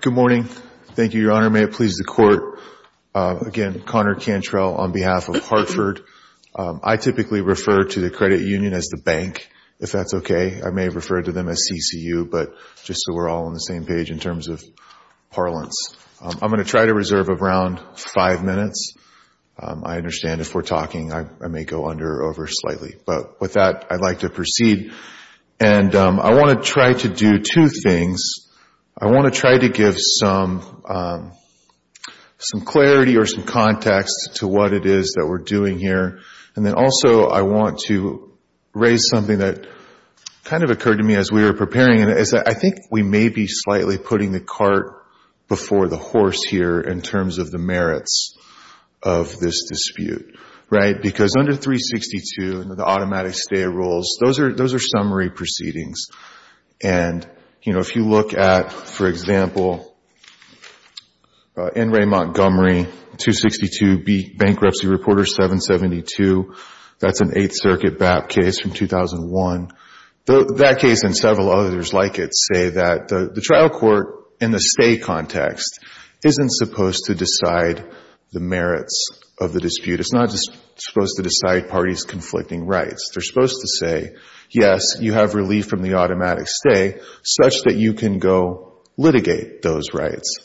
Good morning. Thank you, Your Honor. May it please the Court, again, Conor Cantrell on behalf of Hartford. I typically refer to the credit union as the bank, if that's okay. I may refer to them as CCU, but just so we're all on the same page in terms of parlance. I'm going to try to reserve around five minutes. I understand if we're talking, I may go under or over slightly, but with that, I'd like to proceed. I want to try to do two things. I want to try to give some clarity or some context to what it is that we're doing here, and then also I want to raise something that kind of occurred to me as we were preparing. I think we may be slightly putting the cart before the horse here in terms of the merits of this dispute. Because under 362, the automatic stay of rules, those are summary proceedings. If you look at, for example, N. Ray Montgomery, 262B Bankruptcy Reporter 772, that's an Eighth Circuit BAP case from 2001. That case and several others like it say that the trial court in the stay context isn't supposed to decide the merits of the dispute. It's not just supposed to decide parties' conflicting rights. They're supposed to say, yes, you have relief from the automatic stay such that you can go litigate those rights.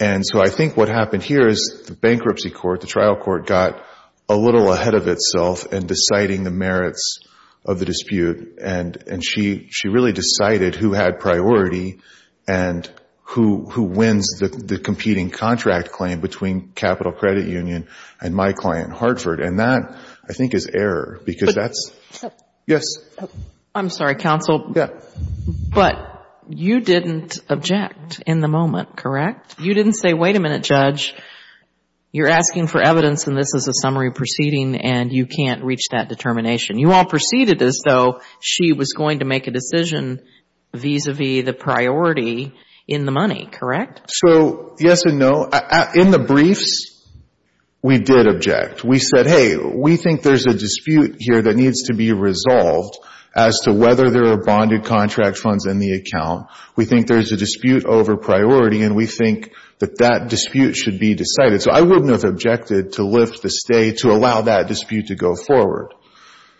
And so I think what happened here is the bankruptcy court, the trial court, got a little ahead of itself in deciding the merits of the dispute, and she really decided who had priority and who wins the competing contract claim between Capital Credit Union and my client Hartford. And that, I think, is error because that's... Yes? I'm sorry, counsel. Yeah. But you didn't object in the moment, correct? You didn't say, wait a minute, judge, you're asking for evidence and this is a summary proceeding and you can't reach that determination. You all proceeded as though she was going to make a decision vis-a-vis the priority in the money, correct? So, yes and no. In the briefs, we did object. We said, hey, we think there's a dispute here that needs to be resolved as to whether there are bonded contract funds in the account. We think there's a dispute over priority and we think that that dispute should be decided. So I wouldn't have objected to lift the stay to allow that dispute to go forward.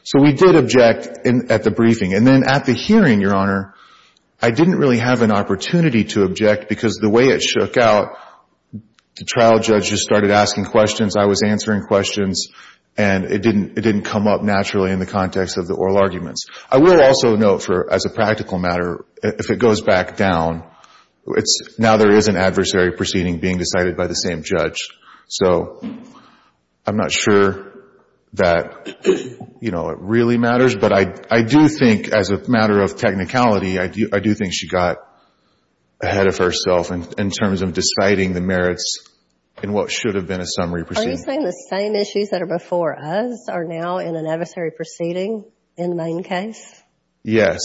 So we did object at the briefing. And then at the hearing, Your Honor, I didn't really have an opportunity to object because the way it shook out, the trial judges started asking questions, I was answering questions, and it didn't come up naturally in the context of the oral arguments. I will also note for, as a practical matter, if it goes back down, now there is an adversary proceeding being decided by the same judge. So I'm not sure that, you know, it really matters. But I do think, as a matter of technicality, I do think she got ahead of herself in terms of deciding the merits in what should have been a summary proceeding. Are you saying the same issues that are before us are now in an adversary proceeding in Mayne case? Yes.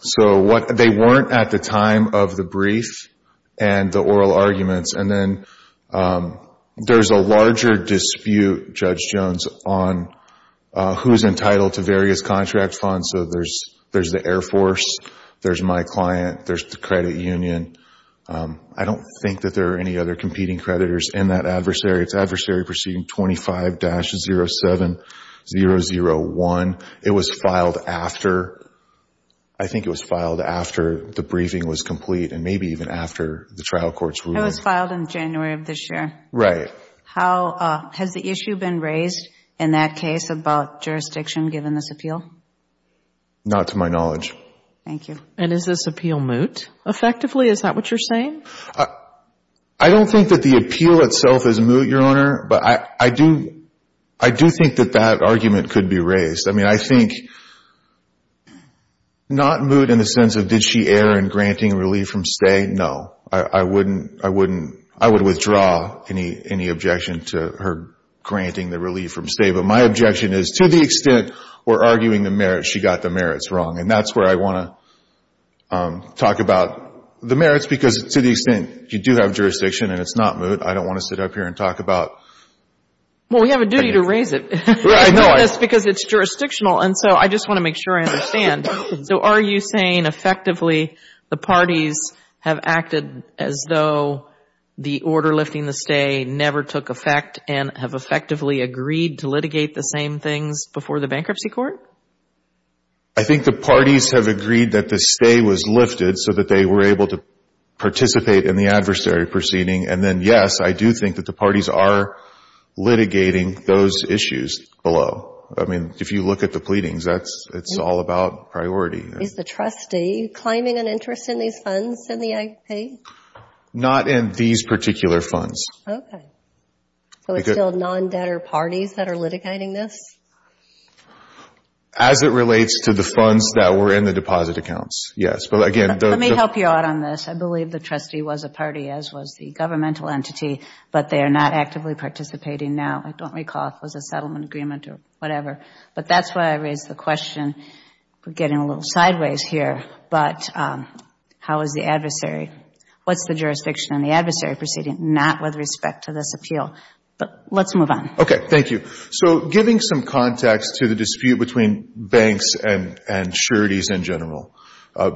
So they weren't at the time of the brief and the oral arguments. And then there's a larger dispute, Judge Jones, on who's entitled to various contract funds. So there's the Air Force, there's my client, there's the credit union. I don't think that there are any other competing creditors in that adversary. It's adversary proceeding 25-07-001. It was filed after, I think it was filed after the briefing was complete and maybe even after the trial court's ruling. It was filed in January of this year. Right. How, has the issue been raised in that case about jurisdiction given this appeal? Not to my knowledge. Thank you. And is this appeal moot effectively? Is that what you're saying? I don't think that the appeal itself is moot, Your Honor, but I do think that that argument could be raised. I mean, I think not moot in the sense of did she err in granting relief from stay? No. I wouldn't, I wouldn't, I would withdraw any objection to her granting the relief from stay. But my objection is to the extent we're arguing the merits, she got the merits wrong. And that's where I want to talk about the merits because to the extent you do have jurisdiction and it's not moot, I don't want to sit up here and talk about... Well, we have a duty to raise it. Right. I know this because it's jurisdictional. And so I just want to make sure I understand. So are you saying effectively the parties have acted as though the order lifting the stay never took effect and have effectively agreed to litigate the same things before the bankruptcy court? I think the parties have agreed that the stay was lifted so that they were able to participate in the adversary proceeding. And then, yes, I do think that the parties are litigating those issues below. I mean, if you look at the pleadings, that's, it's all about priority. Is the trustee climbing an interest in these funds in the IP? Not in these particular funds. Okay. So it's still non-debtor parties that are litigating this? As it relates to the funds that were in the deposit accounts, yes. Let me help you out on this. I believe the trustee was a party, as was the governmental entity, but they are not actively participating now. I don't recall if it was a settlement agreement or whatever. But that's why I raised the question. We're getting a little sideways here. But how is the adversary? What's the jurisdiction in the adversary proceeding? Not with respect to this appeal. But let's move on. Okay. Thank you. So giving some context to the dispute between banks and sureties in general.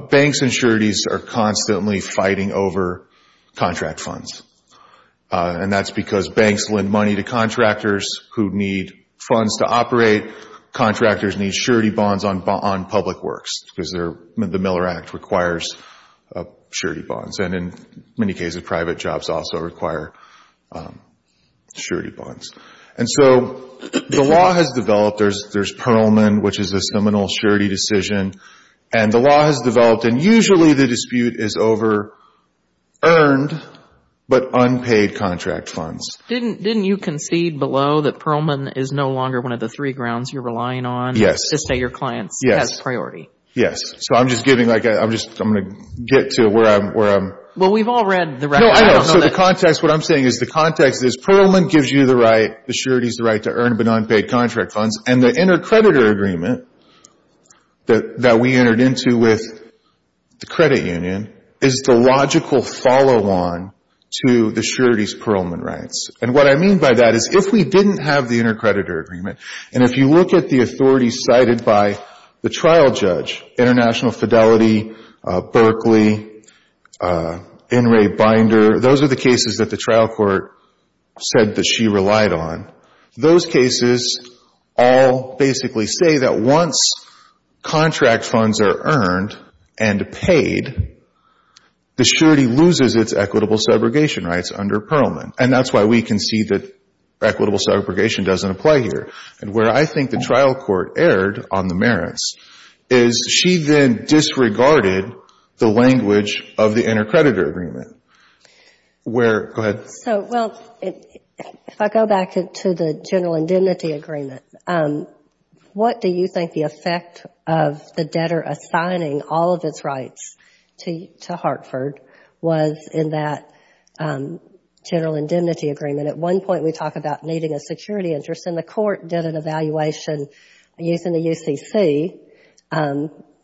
Banks and sureties are constantly fighting over contract funds. And that's because banks lend money to contractors who need funds to operate. Contractors need surety bonds on public works because the Miller Act requires surety bonds. And in many cases, private jobs also require surety bonds. And so the law has developed. There's Perlman, which is a seminal surety decision. And the law has developed. And usually the dispute is over earned but unpaid contract funds. Didn't you concede below that Perlman is no longer one of the three grounds you're relying on? Yes. To say your client has priority. So I'm just giving like a, I'm just, I'm going to get to where I'm, where I'm. Well, we've all read the record. No, I know. So the context, what I'm saying is the context is Perlman gives you the right, the surety's the right to earn but unpaid contract funds. And the inter-creditor agreement that we entered into with the credit union is the logical follow-on to the surety's Perlman rights. And what I mean by that is if we didn't have the inter-creditor agreement, and if you look at the authority cited by the trial judge, International Fidelity, Berkeley, NRA Binder, those are the cases that the trial court said that she relied on. Those cases all basically say that once contract funds are earned and paid, the surety loses its equitable subrogation rights under Perlman. And that's why we concede that equitable subrogation doesn't apply here. And where I think the trial court erred on the merits is she then disregarded the language of the inter-creditor agreement where, go ahead. So, well, if I go back to the general indemnity agreement, what do you think the effect of the debtor assigning all of its rights to Hartford was in that general indemnity agreement? At one point, we talk about needing a security interest, and the court did an evaluation using the UCC,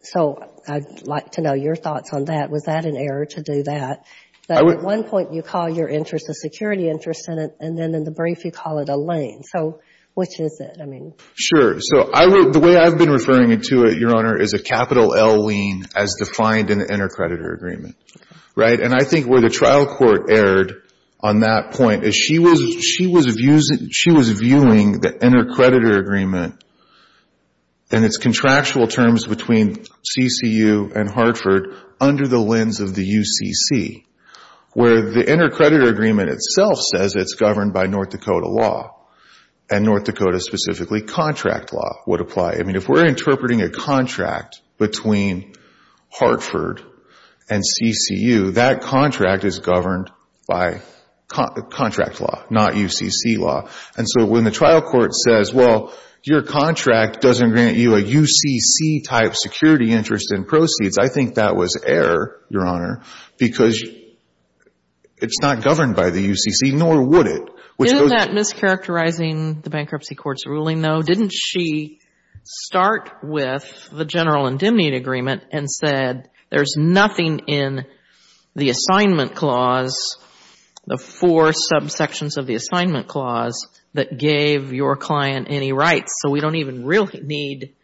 so I'd like to know your thoughts on that. Was that an error to do that? At one point, you call your interest a security interest, and then in the brief, you call it a lien. So, which is it? I mean. Sure. So, the way I've been referring to it, Your Honor, is a capital L lien as defined in the inter-creditor agreement, right? And I think where the trial court erred on that point is she was viewing the inter-creditor agreement and its contractual terms between CCU and Hartford under the lens of the UCC, where the inter-creditor agreement itself says it's governed by North Dakota law, and North Dakota specifically contract law would apply. I mean, if we're interpreting a contract between Hartford and CCU, that contract is governed by contract law, not UCC law. And so, when the trial court says, well, your contract doesn't grant you a UCC-type security interest in proceeds, I think that was error, Your Honor, because it's not governed by the UCC, nor would it. In that mischaracterizing the bankruptcy court's ruling, though, didn't she start with the general indemnity agreement and said, there's nothing in the assignment clause, the four subsections of the assignment clause, that gave your client any rights. So, we don't even really need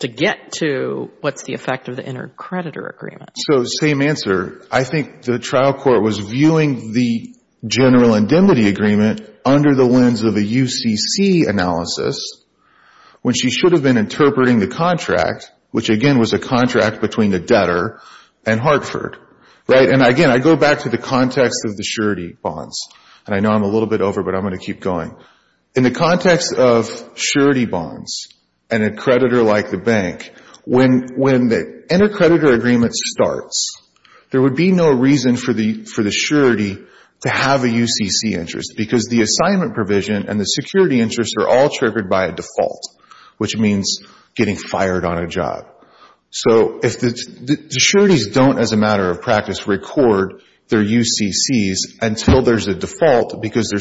to get to what's the effect of the inter-creditor agreement. So, same answer. I think the trial court was viewing the general indemnity agreement under the lens of a UCC analysis, when she should have been interpreting the contract, which, again, was a contract between the debtor and Hartford, right? And, again, I go back to the context of the surety bonds, and I know I'm a little bit over, but I'm going to keep going. In the context of surety bonds, and a creditor like the bank, when the inter-creditor agreement starts, there would be no reason for the surety to have a UCC interest, because the assignment provision and the security interest are all triggered by a default, which means getting fired on a job. So, the sureties don't, as a matter of practice, record their UCCs until there's a default, because the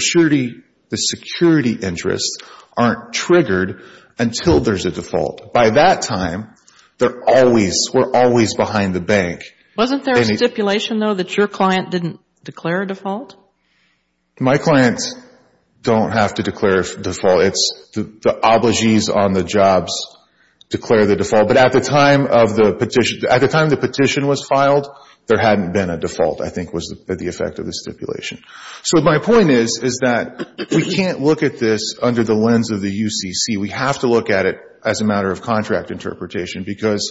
security interests aren't triggered until there's a default. By that time, we're always behind the bank. Wasn't there a stipulation, though, that your client didn't declare a default? My clients don't have to declare a default. It's the obligees on the jobs declare the default, but at the time the petition was filed, there hadn't been a default, I think, was the effect of the stipulation. So, my point is that we can't look at this under the lens of the UCC. We have to look at it as a matter of contract interpretation, because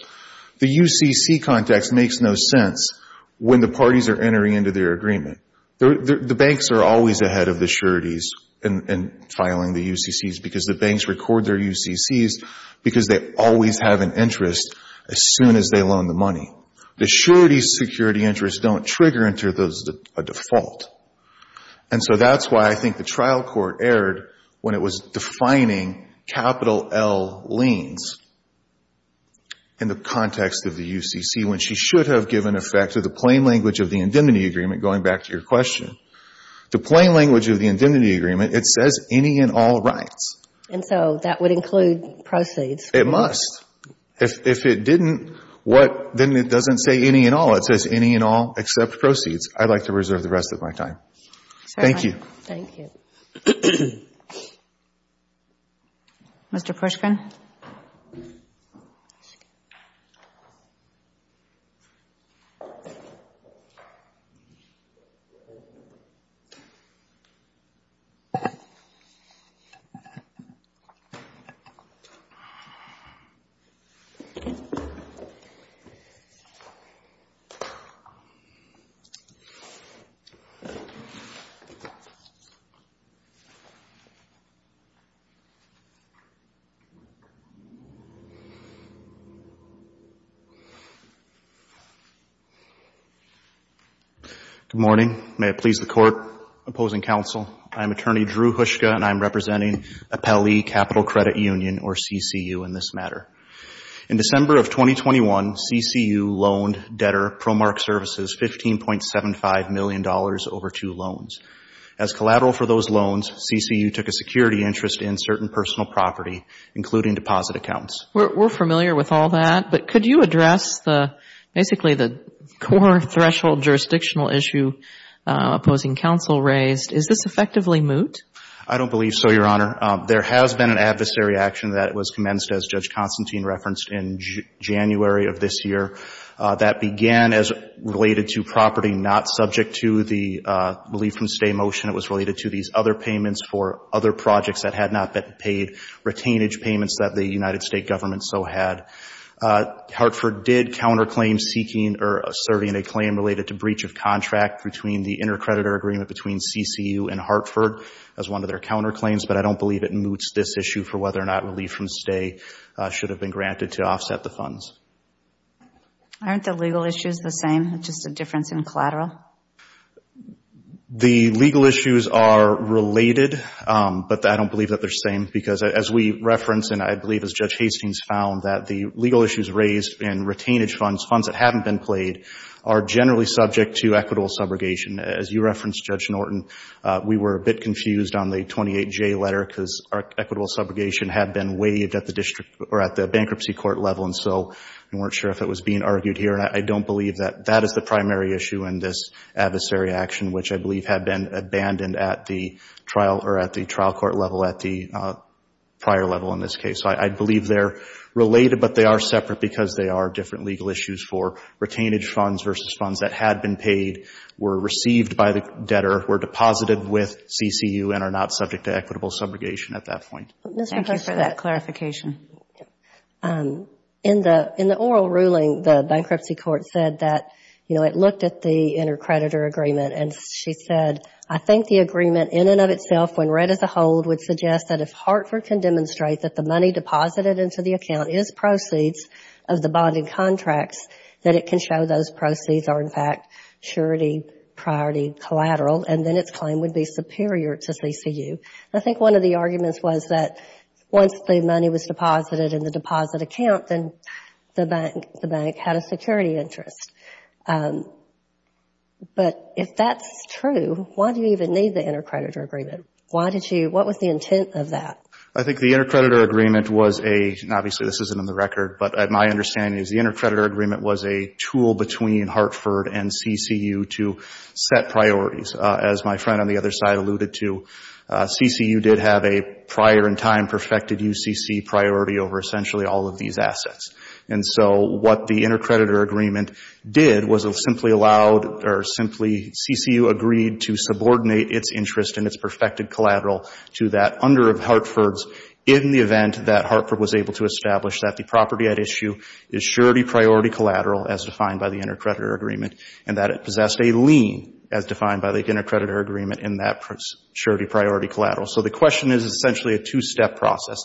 the UCC context makes no sense when the parties are entering into their agreement. The banks are always ahead of the sureties in filing the UCCs, because the banks record their UCCs, because they always have an interest as soon as they loan the money. The sureties' security interests don't trigger until there's a default. And so, that's why I think the trial court erred when it was defining capital L liens in the context of the UCC, when she should have given effect to the plain language of the indemnity agreement, going back to your question. The plain language of the indemnity agreement, it says any and all rights. And so, that would include proceeds. It must. If it didn't, what, then it doesn't say any and all. It says any and all except proceeds. I'd like to reserve the rest of my time. Thank you. Thank you. Mr. Pushkin. Good morning. May it please the court, opposing counsel. I'm Attorney Drew Hushka, and I'm representing Appellee Capital Credit Union, or CCU in this matter. In December of 2021, CCU loaned debtor Promark Services $15.75 million over two loans. As collateral for those loans, CCU took a security interest in certain personal property, including deposit accounts. We're familiar with all that, but could you address the, basically, the core threshold jurisdictional issue opposing counsel raised? Is this effectively moot? I don't believe so, Your Honor. There has been an adversary action that was commenced, as Judge Constantine referenced, in January of this year. That began as related to property not subject to the Relief from Stay motion. It was related to these other payments for other projects that had not been paid, retainage payments that the United States government so had. Hartford did counterclaim seeking or serving a claim related to breach of contract between the intercreditor agreement between CCU and Hartford as one of their counterclaims, but I don't believe it moots this issue for whether or not Relief from Stay should have been granted to offset the funds. Aren't the legal issues the same, just a difference in collateral? The legal issues are related, but I don't believe that they're the same, because as we reference, and I believe as Judge Hastings found, that the legal issues raised in retainage funds, funds that haven't been played, are generally subject to equitable subrogation. As you referenced, Judge Norton, we were a bit confused on the 28J letter because equitable subrogation had been waived at the bankruptcy court level, and so we weren't sure if it was being argued here. I don't believe that that is the primary issue in this adversary action, which I believe had been abandoned at the trial court level, at the prior level in this case. I believe they're related, but they are separate because they are different legal issues for retainage funds versus funds that had been paid, were received by the debtor, were deposited with CCU, and are not subject to equitable subrogation at that point. Thank you for that clarification. In the oral ruling, the bankruptcy court said that it looked at the intercreditor agreement, and she said, I think the agreement in and of itself, when read as a whole, would suggest that if Hartford can demonstrate that the money deposited into the account is proceeds of the bonding contracts, that it can show those proceeds are, in fact, surety, priority, collateral, and then its claim would be superior to CCU. I think one of the arguments was that once the money was deposited in the deposit account, then the bank had a security interest. But if that's true, why do you even need the intercreditor agreement? Why did you, what was the intent of that? I think the intercreditor agreement was a, and obviously this isn't on the record, but my understanding is the intercreditor agreement was a tool between Hartford and CCU to set priorities, as my friend on the other side alluded to. CCU did have a prior-in-time perfected UCC priority over essentially all of these assets. And so what the intercreditor agreement did was it simply allowed, or simply, CCU agreed to subordinate its interest in its perfected collateral to that under Hartford's, in the event that Hartford was able to establish that the property at issue is surety, priority, collateral, as defined by the intercreditor agreement, and that it possessed a lien, as defined by the intercreditor agreement, in that surety, priority, collateral. So the question is essentially a two-step process.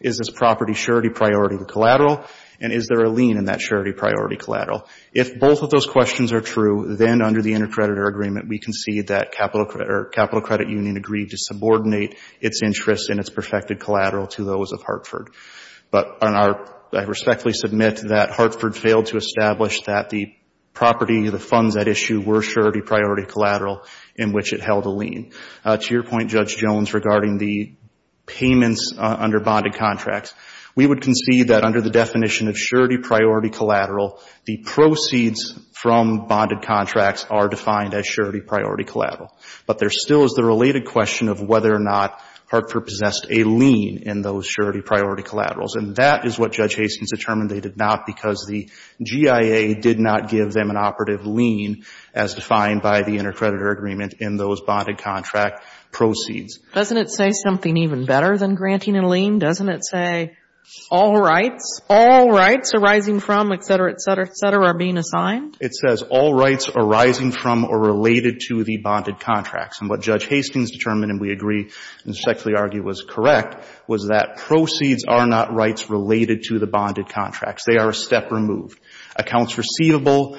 Is this property surety, priority, collateral? And is there a lien in that surety, priority, collateral? If both of those questions are true, then under the intercreditor agreement, we concede that capital credit union agreed to subordinate its interest in its perfected collateral to those of Hartford. But on our, I respectfully submit that Hartford failed to establish that the property, the funds at issue were surety, priority, collateral, in which it held a lien. To your point, Judge Jones, regarding the payments under bonded contracts, we would concede that under the definition of surety, priority, collateral, the proceeds from bonded contracts are defined as surety, priority, collateral. But there still is the related question of whether or not Hartford possessed a lien in those surety, priority, collaterals. And that is what Judge Hastings determined they did not because the GIA did not give them an operative lien as defined by the intercreditor agreement in those bonded contract proceeds. Doesn't it say something even better than granting a lien? Doesn't it say all rights, all rights arising from, et cetera, et cetera, et cetera, are being assigned? It says all rights arising from or related to the bonded contracts. And what Judge Hastings determined, and we agree and respectfully argue was correct, was that proceeds are not rights related to the bonded contracts. They are a step removed. Accounts receivable,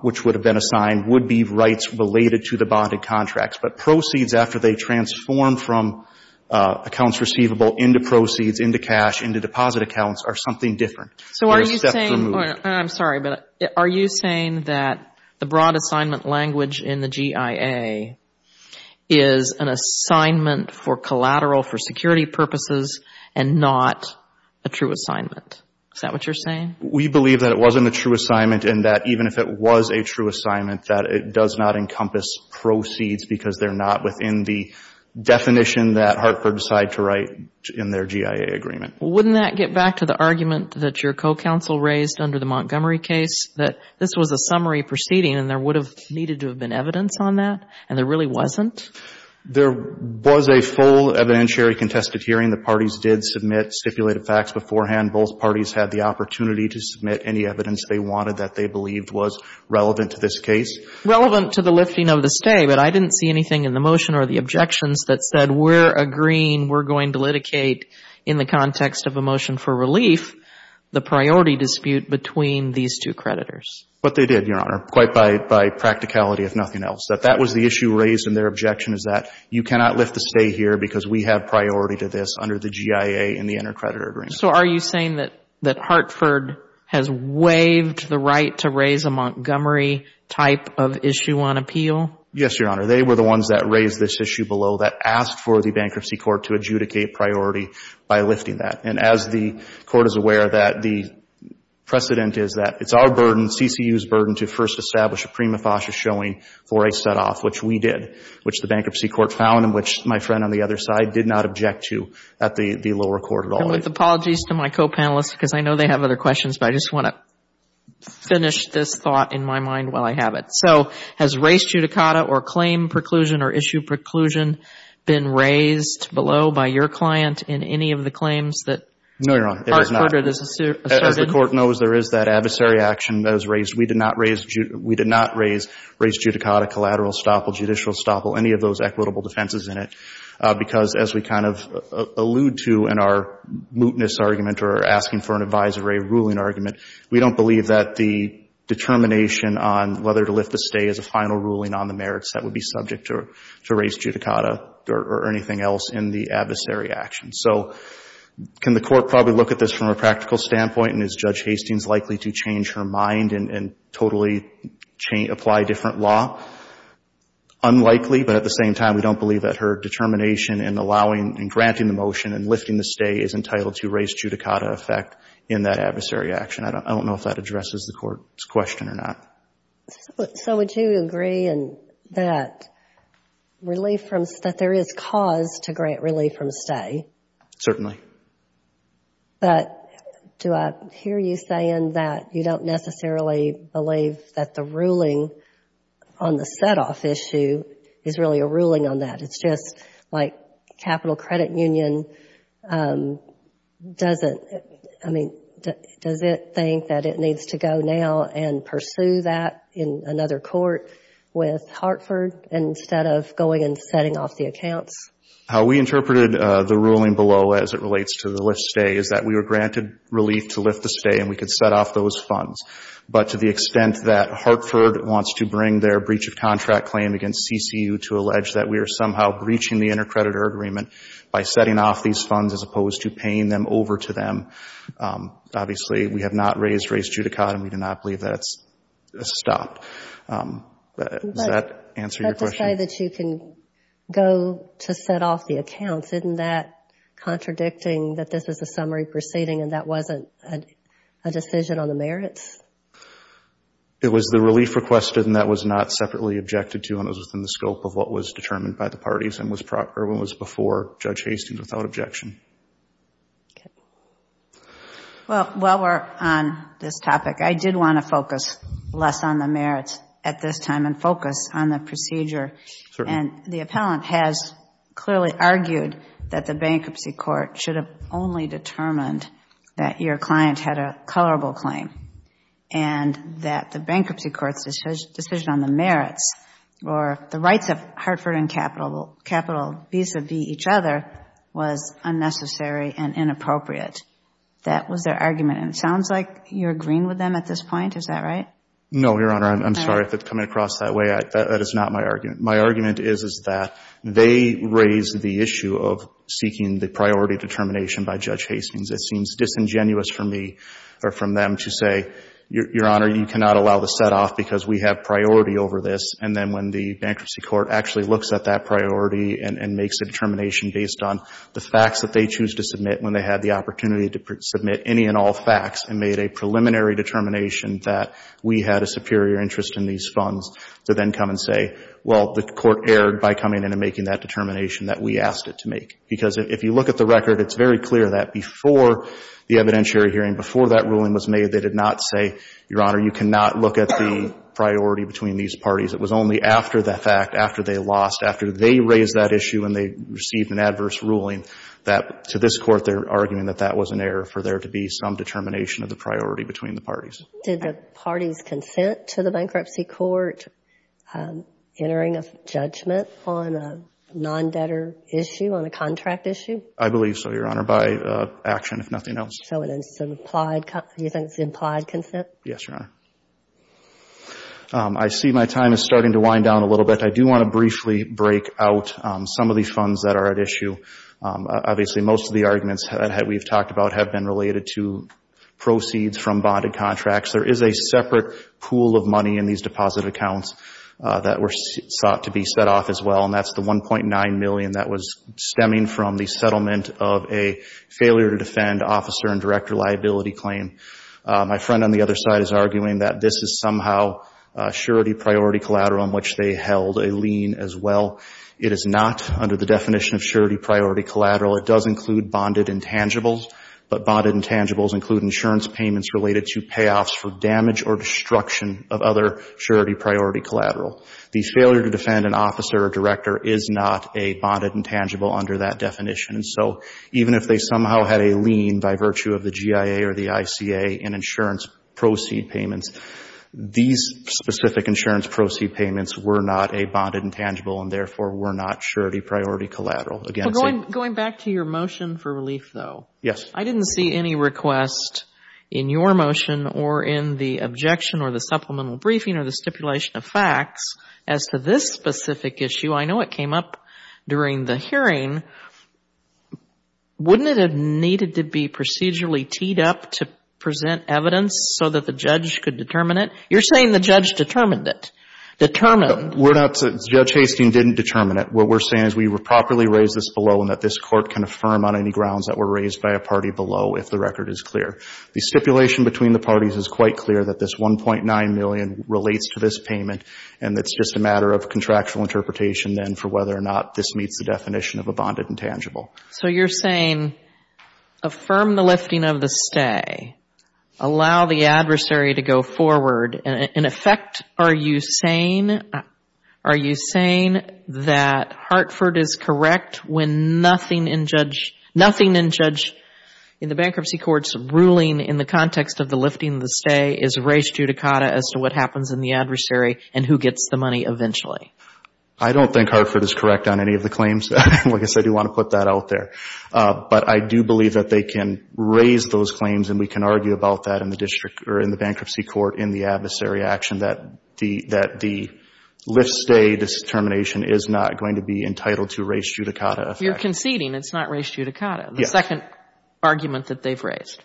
which would have been assigned, would be rights related to the bonded contracts. But proceeds after they transform from accounts receivable into proceeds, into cash, into deposit accounts are something different. They're a step removed. I'm sorry, but are you saying that the broad assignment language in the GIA is an assignment for collateral for security purposes and not a true assignment? Is that what you're saying? We believe that it wasn't a true assignment and that even if it was a true assignment, that it does not encompass proceeds because they're not within the definition that Hartford decided to write in their GIA agreement. Wouldn't that get back to the argument that your co-counsel raised under the Montgomery case, that this was a summary proceeding and there would have needed to have been evidence on that and there really wasn't? There was a full evidentiary contested hearing. The parties did submit stipulated facts beforehand. Both parties had the opportunity to submit any evidence they wanted that they believed was relevant to this case. Relevant to the lifting of the stay, but I didn't see anything in the motion or the objections that said we're agreeing, we're going to litigate in the context of a motion for relief, the priority dispute between these two creditors. But they did, Your Honor, quite by practicality if nothing else. That that was the issue raised and their objection is that you cannot lift the stay here because we have priority to this under the GIA and the intercreditor agreement. So are you saying that Hartford has waived the right to raise a Montgomery type of issue on appeal? Yes, Your Honor. They were the ones that raised this issue below that asked for the bankruptcy court to adjudicate priority by lifting that. And as the court is aware that the precedent is that it's our burden, CCU's burden to first establish a prima facie showing for a set off, which we did, which the bankruptcy court found and which my friend on the other side did not object to at the lower court at all. With apologies to my co-panelists, because I know they have other questions, but I just want to finish this thought in my mind while I have it. So has race judicata or claim preclusion or issue preclusion been raised below by your client in any of the claims that Hartford has asserted? As the court knows, there is that adversary action that is raised. We did not raise race judicata, collateral estoppel, judicial estoppel, any of those equitable defenses in it. Because as we kind of allude to in our mootness argument or asking for an advisory ruling argument, we don't believe that the determination on whether to lift the stay is a final ruling on the merits that would be subject to race judicata or anything else in the adversary action. So can the court probably look at this from a practical standpoint? And is Judge Hastings likely to change her mind and totally apply different law? Unlikely, but at the same time, we don't believe that her determination in allowing and granting the motion and lifting the stay is entitled to race judicata effect in that adversary action. I don't know if that addresses the court's question or not. So would you agree that there is cause to grant relief from stay? Certainly. But do I hear you saying that you don't necessarily believe that the ruling on the set-off issue is really a ruling on that? It's just like capital credit union doesn't, I mean, does it think that it needs to go now and pursue that in another court with Hartford instead of going and setting off the accounts? How we interpreted the ruling below as it relates to the lift stay is that we were granted relief to lift the stay and we could set off those funds. But to the extent that Hartford wants to bring their breach of contract claim against CCU to allege that we are somehow breaching the intercreditor agreement by setting off these funds as opposed to paying them over to them, obviously, we have not raised race judicata and we do not believe that's stopped. Does that answer your question? But to say that you can go to set off the accounts, isn't that contradicting that this is a summary proceeding and that wasn't a decision on the merits? It was the relief requested and that was not separately objected to and it was within the scope of what was determined by the parties and was proper and was before Judge Hastings without objection. Well, while we're on this topic, I did want to focus less on the merits at this time and focus on the procedure and the appellant has clearly argued that the bankruptcy court should have only determined that your client had a colorable claim and that the bankruptcy court's decision on the merits or the rights of Hartford and Capital, capital vis-a-vis each other, was unnecessary and inappropriate. That was their argument and it sounds like you're agreeing with them at this point, is that right? No, Your Honor. I'm sorry if it's coming across that way. That is not my argument. My argument is, is that they raised the issue of seeking the priority determination by Judge Hastings. It seems disingenuous for me or from them to say, Your Honor, you cannot allow the setoff because we have priority over this and then when the bankruptcy court actually looks at that priority and makes a determination based on the facts that they choose to submit when they had the opportunity to submit any and all facts and made a preliminary determination that we had a superior interest in these funds to then come and say, well, the court erred by coming in and making that determination that we asked it to make. Because if you look at the record, it's very clear that before the evidentiary hearing, before that ruling was made, they did not say, Your Honor, you cannot look at the priority between these parties. It was only after that fact, after they lost, after they raised that issue and they received an adverse ruling, that to this court, they're arguing that that was an error for there to be some determination of the priority between the Did the parties consent to the bankruptcy court entering a judgment on a non-debtor issue, on a contract issue? I believe so, Your Honor, by action, if nothing else. So it's an implied, you think it's implied consent? Yes, Your Honor. I see my time is starting to wind down a little bit. I do want to briefly break out some of these funds that are at issue. Obviously, most of the arguments that we've talked about have been related to proceeds from bonded contracts. There is a separate pool of money in these deposit accounts that were sought to be set off as well, and that's the $1.9 million that was stemming from the settlement of a failure to defend officer and director liability claim. My friend on the other side is arguing that this is somehow surety priority collateral in which they held a lien as well. It is not under the definition of surety priority collateral. It does include bonded intangibles, but bonded intangibles include insurance payments related to payoffs for damage or destruction of other surety priority collateral. The failure to defend an officer or director is not a bonded intangible under that definition, and so even if they somehow had a lien by virtue of the GIA or the ICA in insurance proceed payments, these specific insurance proceed payments were not a bonded intangible and therefore were not surety priority collateral. Going back to your motion for relief, though, I didn't see any request in your motion or in the objection or the supplemental briefing or the stipulation of facts as to this specific issue. I know it came up during the hearing. Wouldn't it have needed to be procedurally teed up to present evidence so that the judge could determine it? You're saying the judge determined it. Determined. We're not. Judge Hastings didn't determine it. What we're saying is we properly raised this below and that this Court can affirm on any grounds that were raised by a party below if the record is clear. The stipulation between the parties is quite clear that this $1.9 million relates to this payment and it's just a matter of contractual interpretation then for whether or not this meets the definition of a bonded intangible. So you're saying affirm the lifting of the stay, allow the adversary to go forward. In effect, are you saying that Hartford is correct when nothing in judge, in the bankruptcy court's ruling in the context of the lifting of the stay is res judicata as to what happens in the adversary and who gets the money eventually? I don't think Hartford is correct on any of the claims. Like I said, we want to put that out there. But I do believe that they can raise those claims and we can argue about that in the district or in the bankruptcy court in the adversary action that the lift stay determination is not going to be entitled to res judicata. You're conceding it's not res judicata. The second argument that they've raised.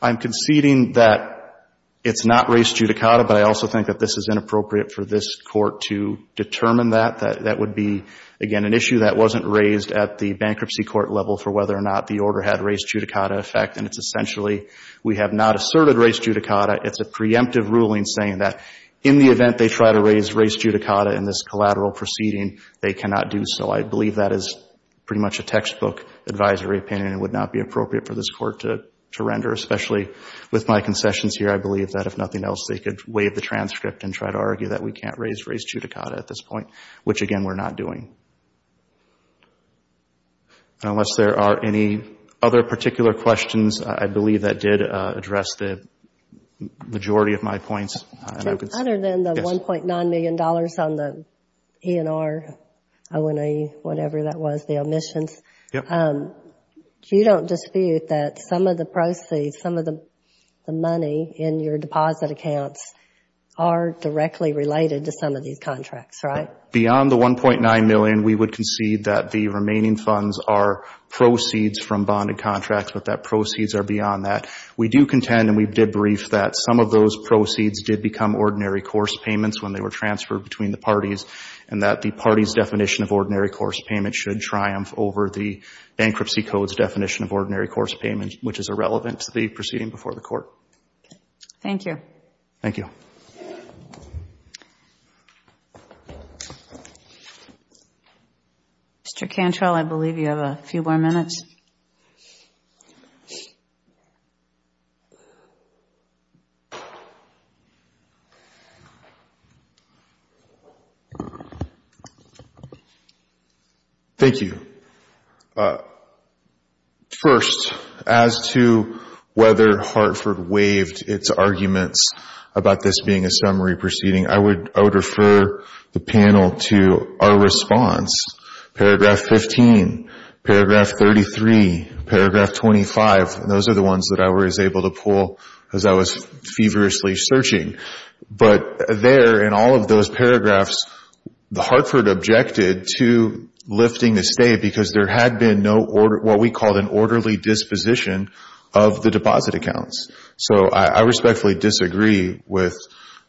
I'm conceding that it's not res judicata, but I also think that this is inappropriate for this court to determine that. That would be, again, an issue that wasn't raised at the bankruptcy court level for whether or not the order had res judicata effect and it's essentially we have not asserted res judicata. It's a preemptive ruling saying that in the event they try to raise res judicata in this collateral proceeding, they cannot do so. I believe that is pretty much a textbook advisory opinion and would not be appropriate for this court to render, especially with my concessions here. I believe that if nothing else, they could waive the transcript and try to argue that we can't raise res judicata at this point, which again, we're not doing. Unless there are any other particular questions, I believe that did address the majority of my points. Other than the $1.9 million on the E&R, O&E, whatever that was, the omissions, you don't dispute that some of the proceeds, some of the money in your deposit accounts are directly related to some of these contracts, right? Beyond the $1.9 million, we would concede that the remaining funds are proceeds from bonded contracts, but that proceeds are beyond that. We do contend and we did brief that some of those proceeds did become ordinary course payments when they were transferred between the parties and that the party's definition of ordinary course payment should triumph over the bankruptcy code's definition of ordinary course payment, which is irrelevant to the proceeding before the court. Thank you. Thank you. Mr. Cantrell, I believe you have a few more minutes. Thank you. First, as to whether Hartford waived its arguments about this being a summary proceeding, I would refer the panel to our response, paragraph 15, paragraph 33, paragraph 25, and those are the ones that I was able to pull as I was feverishly searching, but there in all of those paragraphs, Hartford objected to lifting the stay because there had been what we called an orderly disposition of the deposit accounts, so I respectfully disagree with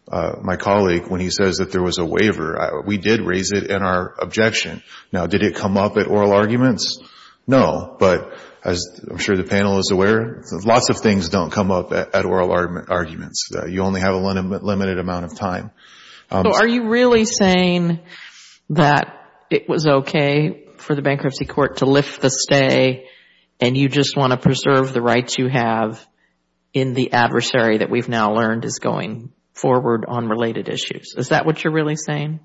my colleague when he says that there was a waiver. We did raise it in our objection. Now, did it come up at oral arguments? No, but as I'm sure the panel is aware, lots of things don't come up at oral arguments. You only have a limited amount of time. Are you really saying that it was okay for the bankruptcy court to lift the stay and you just want to preserve the rights you have in the adversary that we've now learned is going forward on related issues? Is that what you're really saying?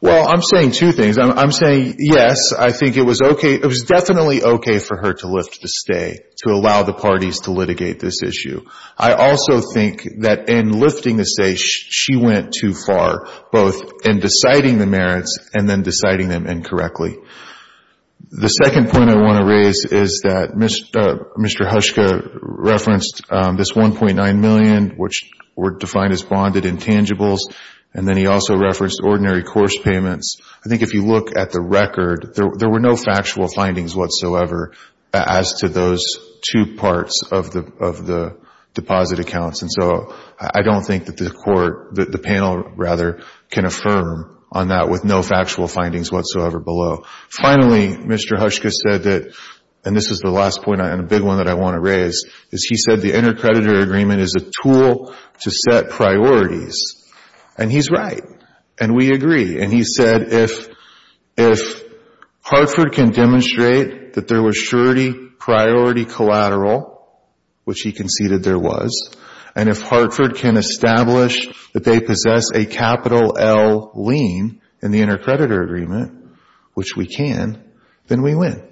Well, I'm saying two things. I'm saying, yes, I think it was okay. It was definitely okay for her to lift the stay to allow the parties to litigate this issue. I also think that in lifting the stay, she went too far, both in deciding the merits and then deciding them incorrectly. The second point I want to raise is that Mr. Hushka referenced this $1.9 million, which were defined as bonded intangibles, and then he also referenced ordinary course payments. I think if you look at the record, there were no factual findings whatsoever as to those two parts of the deposit accounts. And so I don't think that the panel can affirm on that with no factual findings whatsoever below. Finally, Mr. Hushka said that, and this is the last point and a big one that I want to raise, is he said the intercreditor agreement is a tool to set priorities. And he's right, and we agree. And he said if Hartford can demonstrate that there was surety priority collateral, which he conceded there was, and if Hartford can establish that they possess a capital L lien in the intercreditor agreement, which we can, then we win.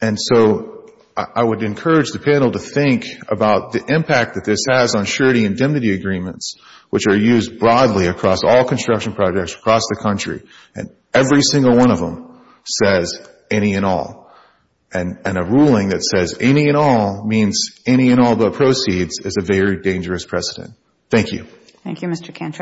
And so I would encourage the panel to think about the impact that this has on surety and indemnity agreements, which are used broadly across all construction projects across the country, and every single one of them says any and all. And a ruling that says any and all means any and all but proceeds is a very dangerous precedent. Thank you. Thank you, Mr. Cantrell.